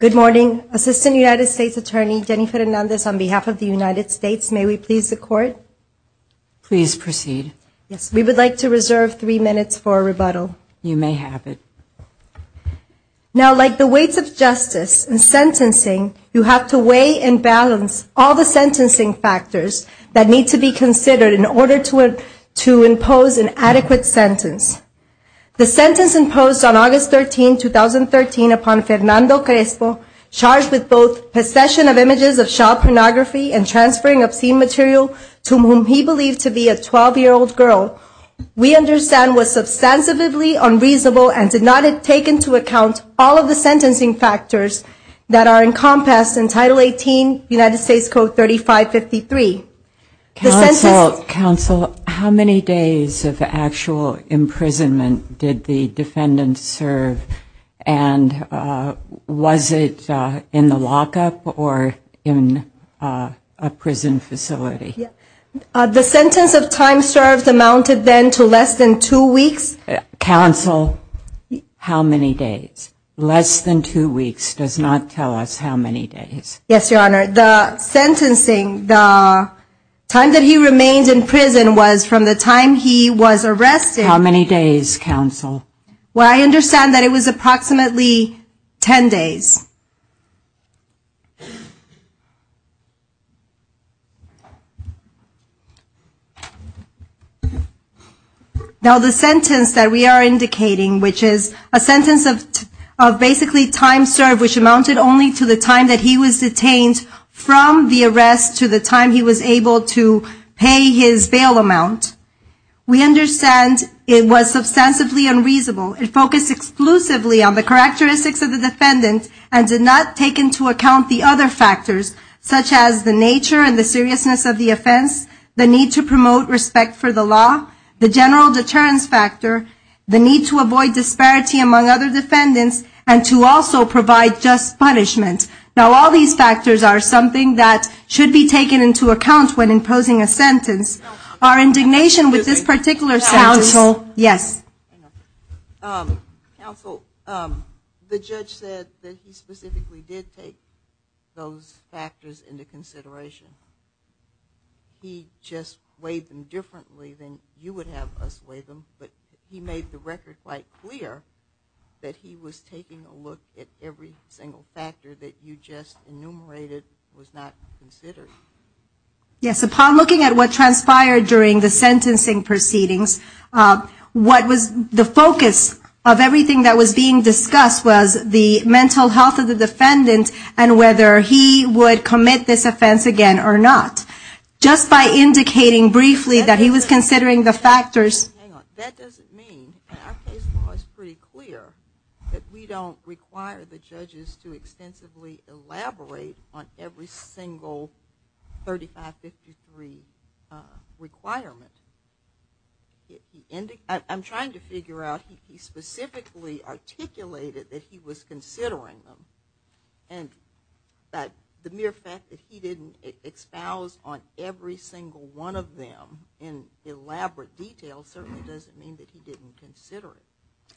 Good morning, Assistant United States Attorney Jennifer Hernandez on behalf of the United States. May we please the court? Please proceed. Yes, we would like to reserve three minutes for rebuttal. You may have it. Now, like the weights of justice and sentencing, you have to weigh and balance all the sentencing factors that need to be considered in order to impose an adequate sentence. The sentence imposed on August 13, 2013 upon Fernando Crespo, charged with both possession of images of child pornography and transferring obscene material to whom he believed to be a 12-year-old girl, we understand was substantively unreasonable and did not take into account all of the sentencing factors that are encompassed in Title 18, United States Code 3553. Counsel, how many days of actual imprisonment did the defendant serve and was it in the lockup or in a prison facility? The sentence of time served amounted then to less than two weeks. Counsel, how many days? Less than two weeks does not tell us how many days. Yes, Your Honor. The sentencing, the time that he remained in prison was from the time he was arrested. How many days, Counsel? Well, I understand that it was approximately ten days. Now, the sentence that we are indicating, which is a sentence of basically time served, which amounted only to the time that he was detained from the arrest to the time he was able to pay his bail amount, we understand it was substantively unreasonable and focused exclusively on the characteristics of the defendant and not on the time that he was in prison. And did not take into account the other factors, such as the nature and the seriousness of the offense, the need to promote respect for the law, the general deterrence factor, the need to avoid disparity among other defendants, and to also provide just punishment. Now, all these factors are something that should be taken into account when imposing a sentence. Our indignation with this particular sentence... Counsel, yes? Counsel, the judge said that he specifically did take those factors into consideration. He just weighed them differently than you would have us weigh them, but he made the record quite clear that he was taking a look at every single factor that you just enumerated was not considered. Yes, upon looking at what transpired during the sentencing proceedings, the focus of everything that was being discussed was the mental health of the defendant and whether he would commit this offense again or not. Just by indicating briefly that he was considering the factors... Hang on. That doesn't mean, and our case law is pretty clear, that we don't require the judges to extensively elaborate on every single 3553 requirement. I'm trying to figure out, he specifically articulated that he was considering them. And the mere fact that he didn't expound on every single one of them in elaborate detail certainly doesn't mean that he didn't consider it.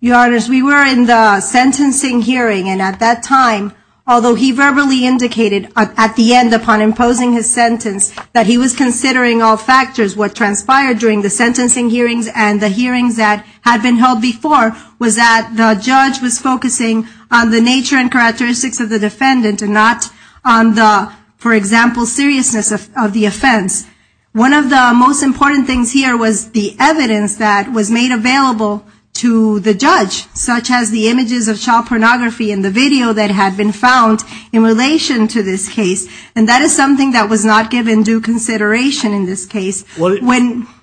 Your Honors, we were in the sentencing hearing and at that time, although he verbally indicated at the end upon imposing his sentence that he was considering all factors, what transpired during the sentencing hearings and the hearings that had been held before was that the judge was focusing on the nature and characteristics of the defendant and not on the, for example, seriousness of the offense. One of the most important things here was the evidence that was made available to the judge, such as the images of child pornography and the video that had been found in relation to this case. And that is something that was not given due consideration in this case. When we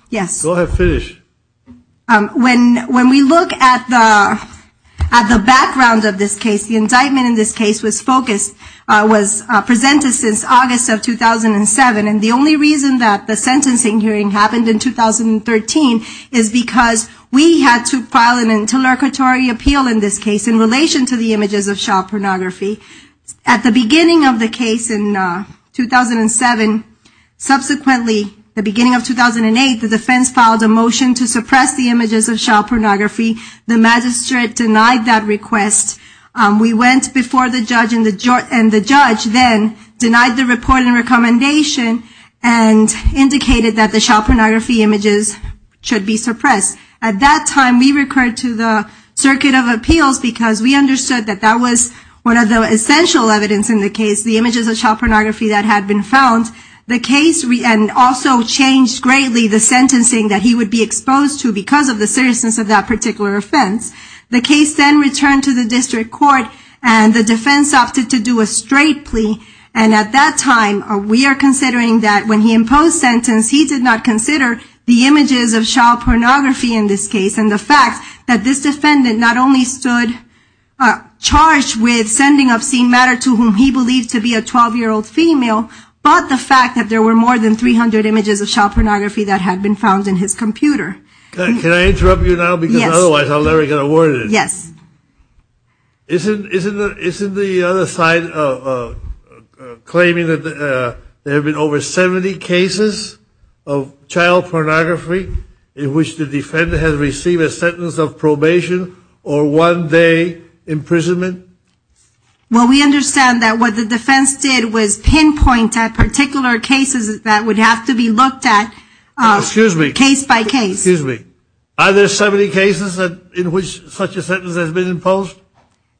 look at the background of this case, the indictment in this case was focused, was presented since August of 2007 and the only reason that the sentencing hearing happened in 2013 is because we had to file an interlocutory appeal in this case in relation to the images of child pornography. At the beginning of the case in 2007, subsequently, the beginning of 2008, the defense filed a motion to suppress the images of child pornography. The magistrate denied that request. We went before the judge and the judge then denied the report and recommendation and indicated that the child pornography images should be suppressed. At that time, we referred to the circuit of appeals because we understood that that was one of the essential evidence in the case, the images of child pornography that had been found. The case also changed greatly the sentencing that he would be exposed to because of the seriousness of that particular offense. The case then returned to the district court and the defense opted to do a straight plea and at that time, we are considering that when he imposed sentence, he did not consider the images of child pornography in this case and the fact that this defendant not only stood charged with sending obscene matter to whom he believed to be a 12-year-old female, but the fact that there were more than 300 images of child pornography that had been found in his computer. Can I interrupt you now because otherwise I will never get a word in. Yes. Isn't the other side claiming that there have been over 70 cases of child pornography in which the defendant has received a sentence of probation or one day imprisonment? Well, we understand that what the defense did was pinpoint at particular cases that would have to be looked at case by case. Excuse me. Are there 70 cases in which such a sentence has been imposed?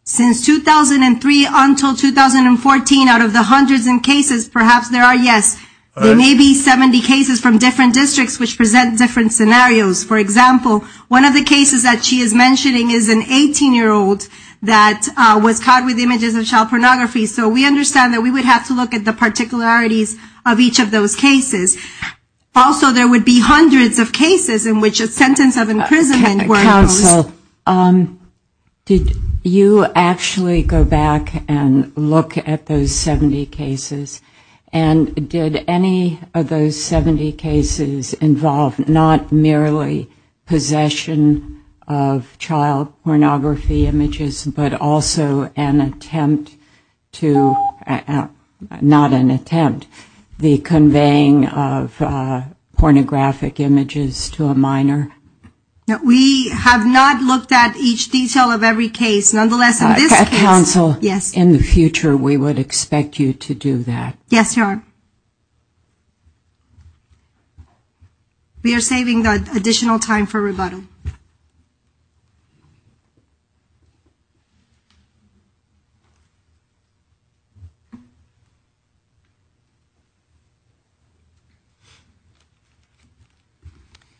Since 2003 until 2014, out of the hundreds of cases, perhaps there are, yes. There may be 70 cases from different districts which present different scenarios. For example, one of the cases that she is mentioning is an 18-year-old that was caught with images of child pornography, so we understand that we would have to look at the particularities of each of those cases. Also, there would be hundreds of cases in which a sentence of imprisonment were imposed. Did you actually go back and look at those 70 cases, and did any of those 70 cases involve not merely possession of child pornography images, but also an attempt to, not an attempt, the conveying of pornographic images to a minor? We have not looked at each detail of every case. Nonetheless, in this case, yes. At counsel, in the future, we would expect you to do that. Yes, Your Honor. We are saving the additional time for rebuttal.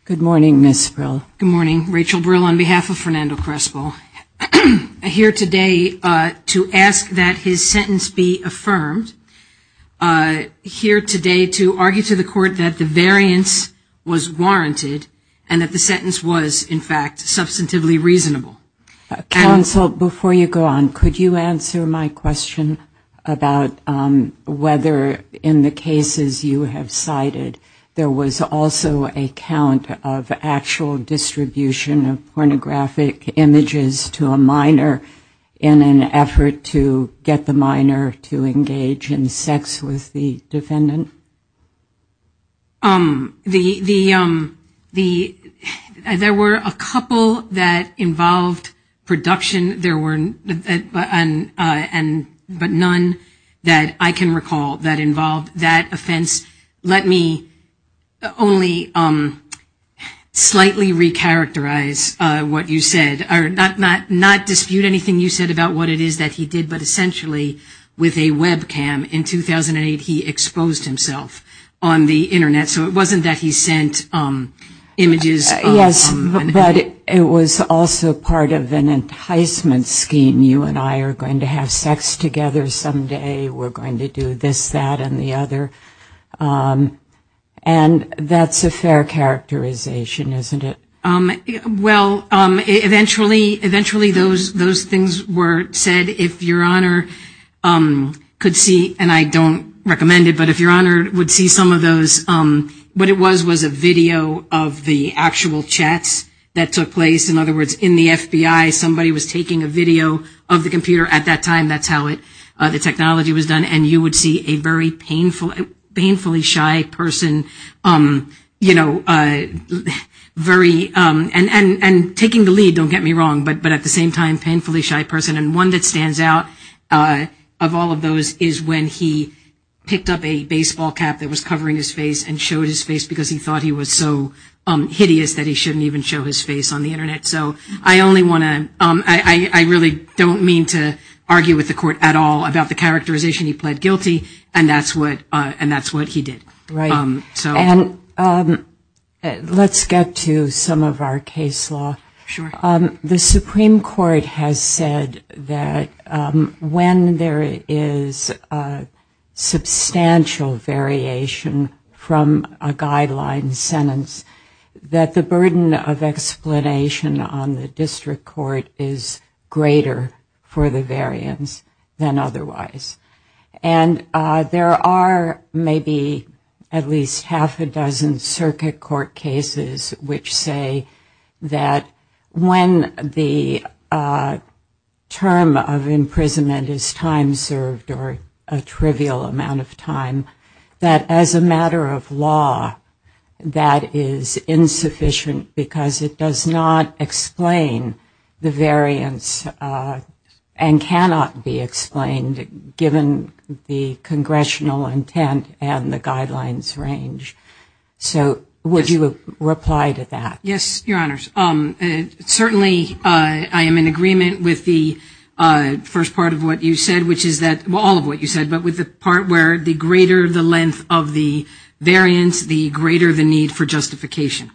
Good morning, Ms. Brill. Good morning, Rachel Brill, on behalf of Fernando Crespo. I'm here today to ask that his sentence be affirmed. I'm here today to argue to the court that the variance was warranted and that the sentence was, in fact, saved. Counsel, before you go on, could you answer my question about whether, in the cases you have cited, there was also a count of actual distribution of pornographic images to a minor in an effort to get the minor to engage in sex with the defendant? There were a couple that involved production, but none that I can recall that involved that offense. Let me only slightly recharacterize what you said, or not dispute anything you said about what it is that he did, but essentially, with a webcam, in 2008, he exposed himself. So it wasn't that he sent images. Yes, but it was also part of an enticement scheme, you and I are going to have sex together someday, we're going to do this, that, and the other. And that's a fair characterization, isn't it? Well, eventually, those things were said. If your Honor could see, and I don't recommend it, but if your Honor would see some of those, what it was was a video of the actual chats that took place. In other words, in the FBI, somebody was taking a video of the computer at that time, that's how the technology was done, and you would see a very painfully shy person, you know, very, you know, and taking the lead, don't get me wrong, but at the same time, painfully shy person, and one that stands out of all of those is when he picked up a baseball cap that was covering his face and showed his face because he thought he was so hideous that he shouldn't even show his face on the Internet. So I only want to, I really don't mean to argue with the Court at all about the characterization, he pled guilty, and that's what he did. And let's get to some of our case law. The Supreme Court has said that when there is substantial variation from a guideline sentence, that the burden of explanation on the district court is greater for the variance than otherwise. And there are maybe at least half a dozen circuit court cases which say that when the term of imprisonment is time served or a trivial amount of time, that as a matter of law, that is insufficient because it does not explain the variance and cannot be explained by the court, given the Congressional intent and the guidelines range. So would you reply to that? Yes, Your Honors. Certainly I am in agreement with the first part of what you said, which is that, well, all of what you said, but with the part where the greater the length of the variance, the greater the need for justification.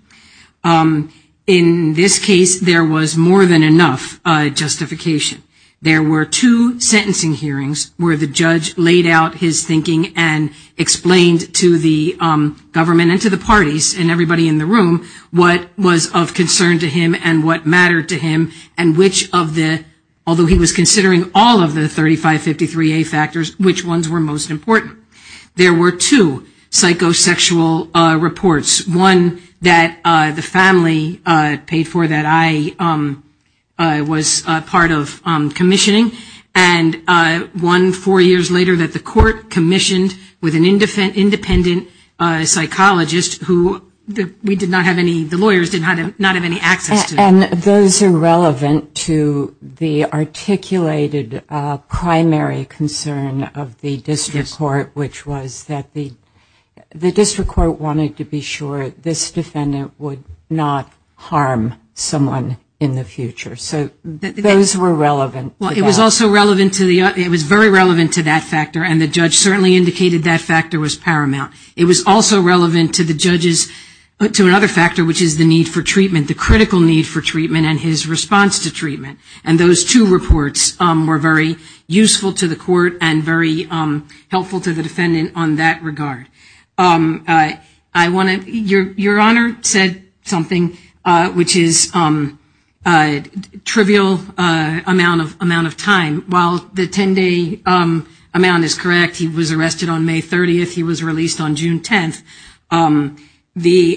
In this case, there was more than enough justification. There were two sentencing hearings where the judge laid out his thinking and explained to the government and to the parties and everybody in the room what was of concern to him and what mattered to him and which of the, although he was considering all of the 3553A factors, which ones were most important. There were two psychosexual reports, one that the family paid for that I was part of commissioning, and one four years later that the court commissioned with an independent psychologist who we did not have any, the lawyers did not have any access to. And those are relevant to the articulated primary concern of the district court, which is that, well, it's not just a matter of the length of the variance. It's a matter of the length of the justification, which was that the district court wanted to be sure this defendant would not harm someone in the future. So those were relevant. Well, it was also relevant to the, it was very relevant to that factor, and the judge certainly indicated that factor was paramount. It was also relevant to the judge's, to another factor, which is the need for treatment, the critical need for treatment and his response to treatment. And those two reports were very useful to the court and very helpful to the defendant on that regard. I want to, your Honor said something, which is a trivial amount of time. While the 10-day amount is correct, he was arrested on May 30th, he was released on June 10th. He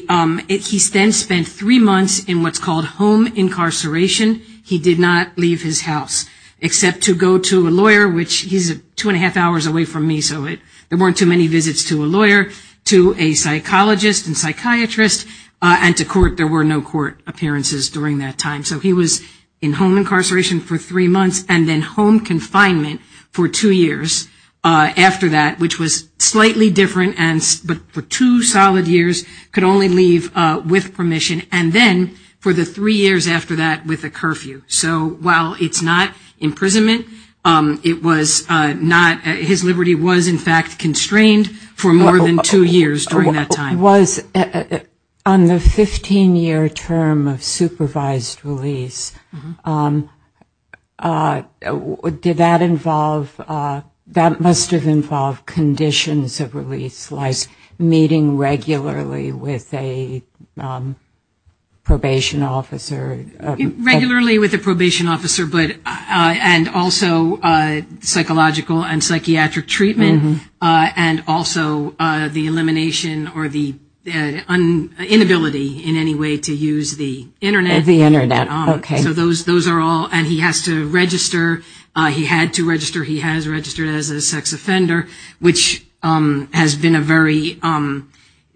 then spent three months in what's called home incarceration. He did not leave his house, except to go to a lawyer, which he's two and a half hours away from me, so there weren't too many visits to a lawyer, to a psychologist and psychiatrist, and to court. There were no court appearances during that time. So he was in home incarceration for three months and then home confinement for two years after that, which was slightly different, but for two solid years, could only leave with permission, and then for the three years after that with a curfew. So while it's not imprisonment, it was not, his liberty was in fact constrained for more than two years during that time. It was, on the 15-year term of supervised release, did that involve, that must have involved conditions of release, like meeting regularly with a probation officer? Regularly with a probation officer, but, and also psychological and psychiatric treatment, and also the elimination or the release of the person. Inability in any way to use the Internet, so those are all, and he has to register, he had to register, he has registered as a sex offender, which has been a very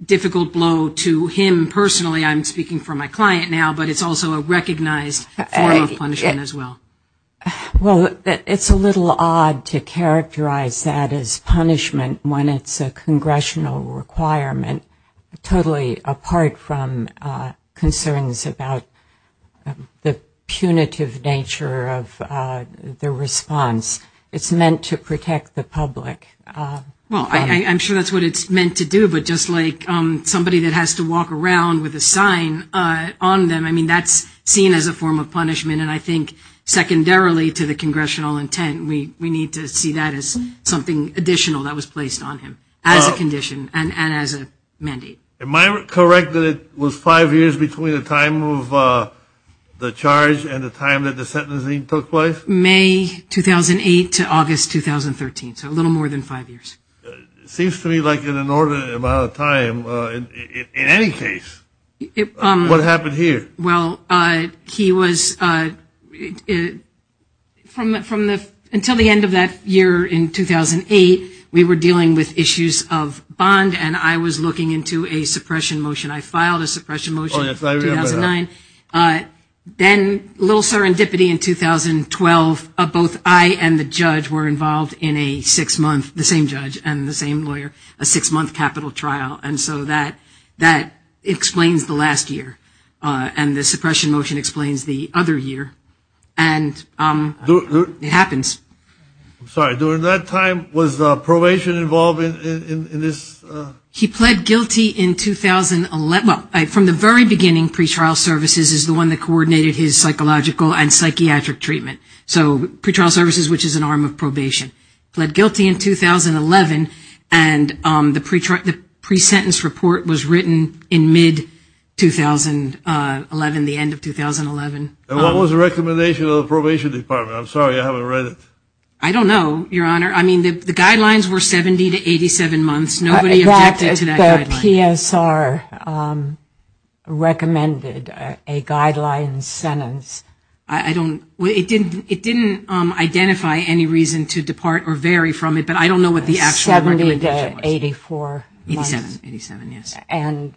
difficult blow to him personally. I'm speaking for my client now, but it's also a recognized form of punishment as well. Well, it's a little odd to characterize that as punishment when it's a congressional requirement. Totally apart from concerns about the punitive nature of the response, it's meant to protect the public. Well, I'm sure that's what it's meant to do, but just like somebody that has to walk around with a sign on them, I mean, that's seen as a form of punishment, and I think secondarily to the congressional intent, we need to see that as something additional that was placed on him, as a condition, and as a mandate. Am I correct that it was five years between the time of the charge and the time that the sentencing took place? May 2008 to August 2013, so a little more than five years. It seems to me like an inordinate amount of time, in any case. What happened here? Well, he was, from the, until the end of that year in 2008, we were dealing with issues of bond, and I was looking into a suppression motion. I filed a suppression motion in 2009. Then a little serendipity in 2012, both I and the judge were involved in a six-month, the same judge and the same lawyer, a six-month capital trial, and so that explains the last year. Then the suppression motion explains the other year, and it happens. I'm sorry, during that time, was probation involved in this? He pled guilty in 2011, well, from the very beginning, pretrial services is the one that coordinated his psychological and psychiatric treatment, so pretrial services, which is an arm of probation. He pled guilty in 2011, and the pre-sentence report was written in mid-2011. And what was the recommendation of the probation department? I'm sorry, I haven't read it. I don't know, Your Honor. I mean, the guidelines were 70 to 87 months, nobody objected to that guideline. The PSR recommended a guideline sentence. It didn't identify any reason to depart or vary from it, but I don't know what the actual recommendation was. And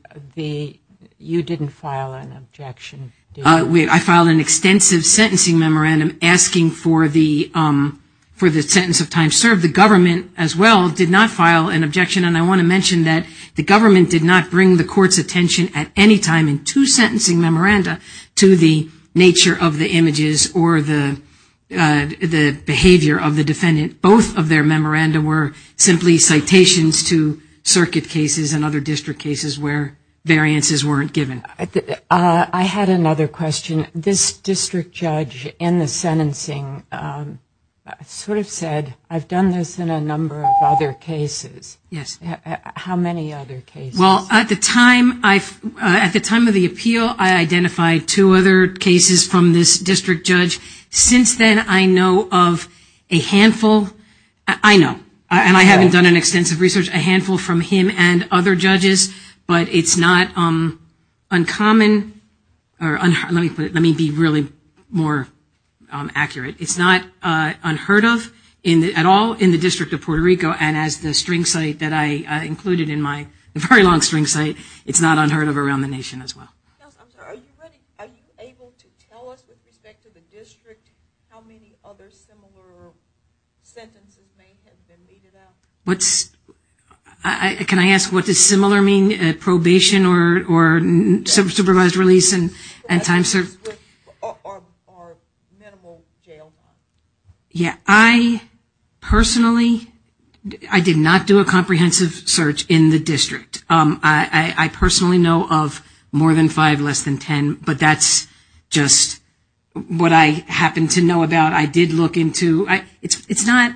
you didn't file an objection? I filed an extensive sentencing memorandum asking for the sentence of time served. The government, as well, did not file an objection, and I want to mention that the government did not bring the court's attention at any time in two sentencing memoranda to the nature of the images or the behavior of the defendant. Both of their memoranda were simply citations to circuit cases and other district cases where variances weren't given. I had another question. This district judge in the sentencing sort of said, I've done this in a number of other cases. How many other cases? Well, at the time of the appeal, I identified two other cases from this district judge. Since then, I know of a handful, I know, and I haven't done an extensive research, a handful from him and other judges. But it's not uncommon, or let me put it, let me be really more accurate. It's not unheard of at all in the District of Puerto Rico, and as the string site that I included in my very long-standing case, it's not unheard of. It's not unheard of around the nation as well. Are you able to tell us with respect to the district how many other similar sentences may have been needed out? Can I ask what does similar mean, probation or supervised release and time served? Or minimal jail time. Yeah, I personally, I did not do a comprehensive search in the district. I personally know of more than five, less than 10, but that's just what I happen to know about. I did look into, it's not,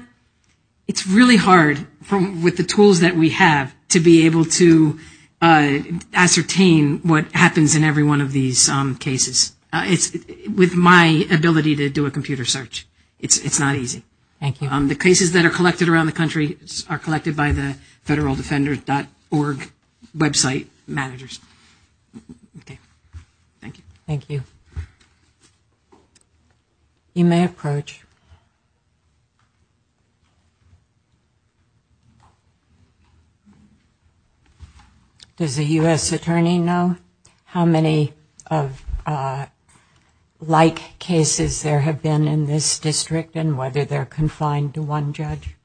it's really hard with the tools that we have to be able to ascertain what happens in every one of these cases. It's, with my ability to do a computer search, it's not easy. The cases that are collected around the country are collected by the federaldefender.org website managers. Okay, thank you. Thank you. You may approach. Does the U.S. Attorney know how many like cases there have been in this district and whether they're confined to one judge?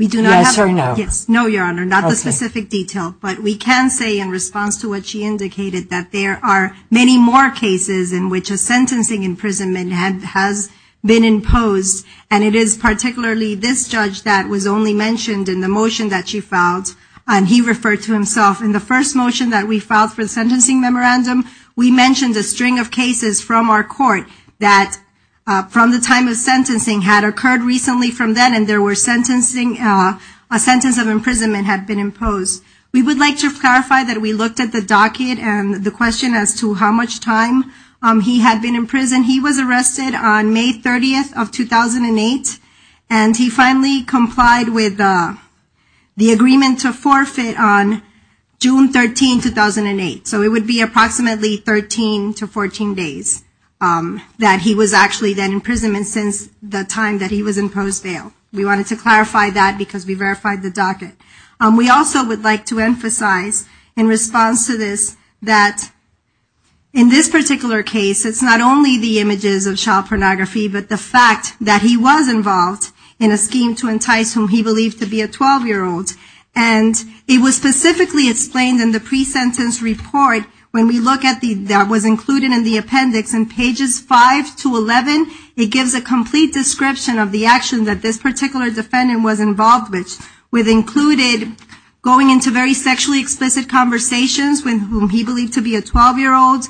Yes or no? No, Your Honor, not the specific detail, but we can say in response to what she indicated that there are many more cases in which a sentencing imprisonment has been imposed, and it is particularly this judge that was only mentioned in the motion that she filed, and he referred to himself. In the first motion that we filed for the sentencing memorandum, we mentioned a string of cases from our court that from the time of sentencing had occurred recently from then, and there were sentencing, a sentence of imprisonment had been imposed. We would like to clarify that we looked at the docket and the question as to how much time he had been in prison. He was arrested on May 30th of 2008, and he finally complied with the agreement to forfeit on June 13, 2008. So it would be approximately 13 to 14 days that he was actually then in prison, and since the time of the sentencing. We wanted to clarify that because we verified the docket. We also would like to emphasize in response to this that in this particular case, it's not only the images of child pornography, but the fact that he was involved in a scheme to entice whom he believed to be a 12-year-old, and it was specifically explained in the pre-sentence report when we look at the appendix in pages 5 to 11, it gives a complete description of the action that this particular defendant was involved with, which included going into very sexually explicit conversations with whom he believed to be a 12-year-old,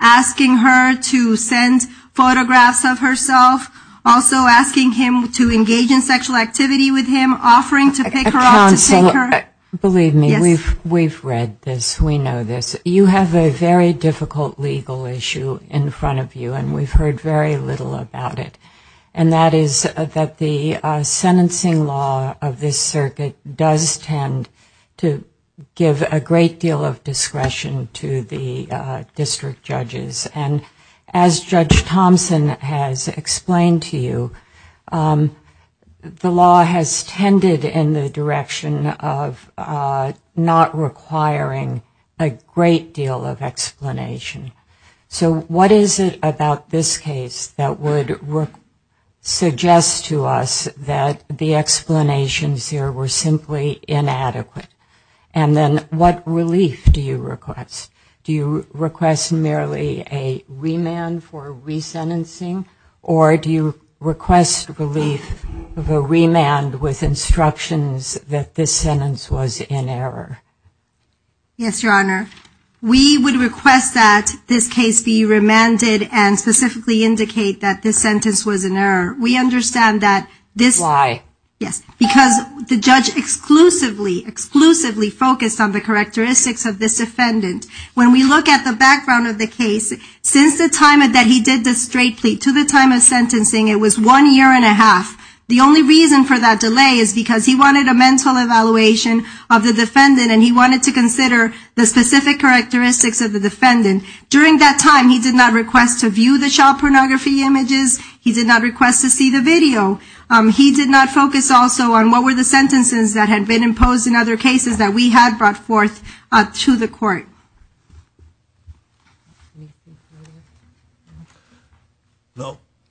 asking her to send photographs of herself, also asking him to engage in sexual activity with him, offering to pick her up to take her. Believe me, we've read this, we know this. You have a very difficult legal issue in front of you, and we've heard very little about it. And that is that the sentencing law of this circuit does tend to give a great deal of discretion to the district judges, and as Judge Thompson has explained to you, the law has tended in the direction of not requiring a great deal of explanation. So what is it about this case that would suggest to us that the explanations here were simply inadequate? And then what relief do you request? Or do you request relief of a remand with instructions that this sentence was in error? Yes, Your Honor. We would request that this case be remanded and specifically indicate that this sentence was in error. Why? Yes, because the judge exclusively, exclusively focused on the characteristics of this defendant. When we look at the background of the case, since the time that he did the straight plea to the time of sentencing, it was one year and a half. The only reason for that delay is because he wanted a mental evaluation of the defendant, and he wanted to consider the specific characteristics of the defendant. During that time, he did not request to view the child pornography images. He did not request to see the video. He did not focus also on what were the sentences that had been imposed in other cases that we had brought forth to the court.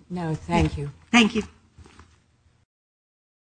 No, thank you.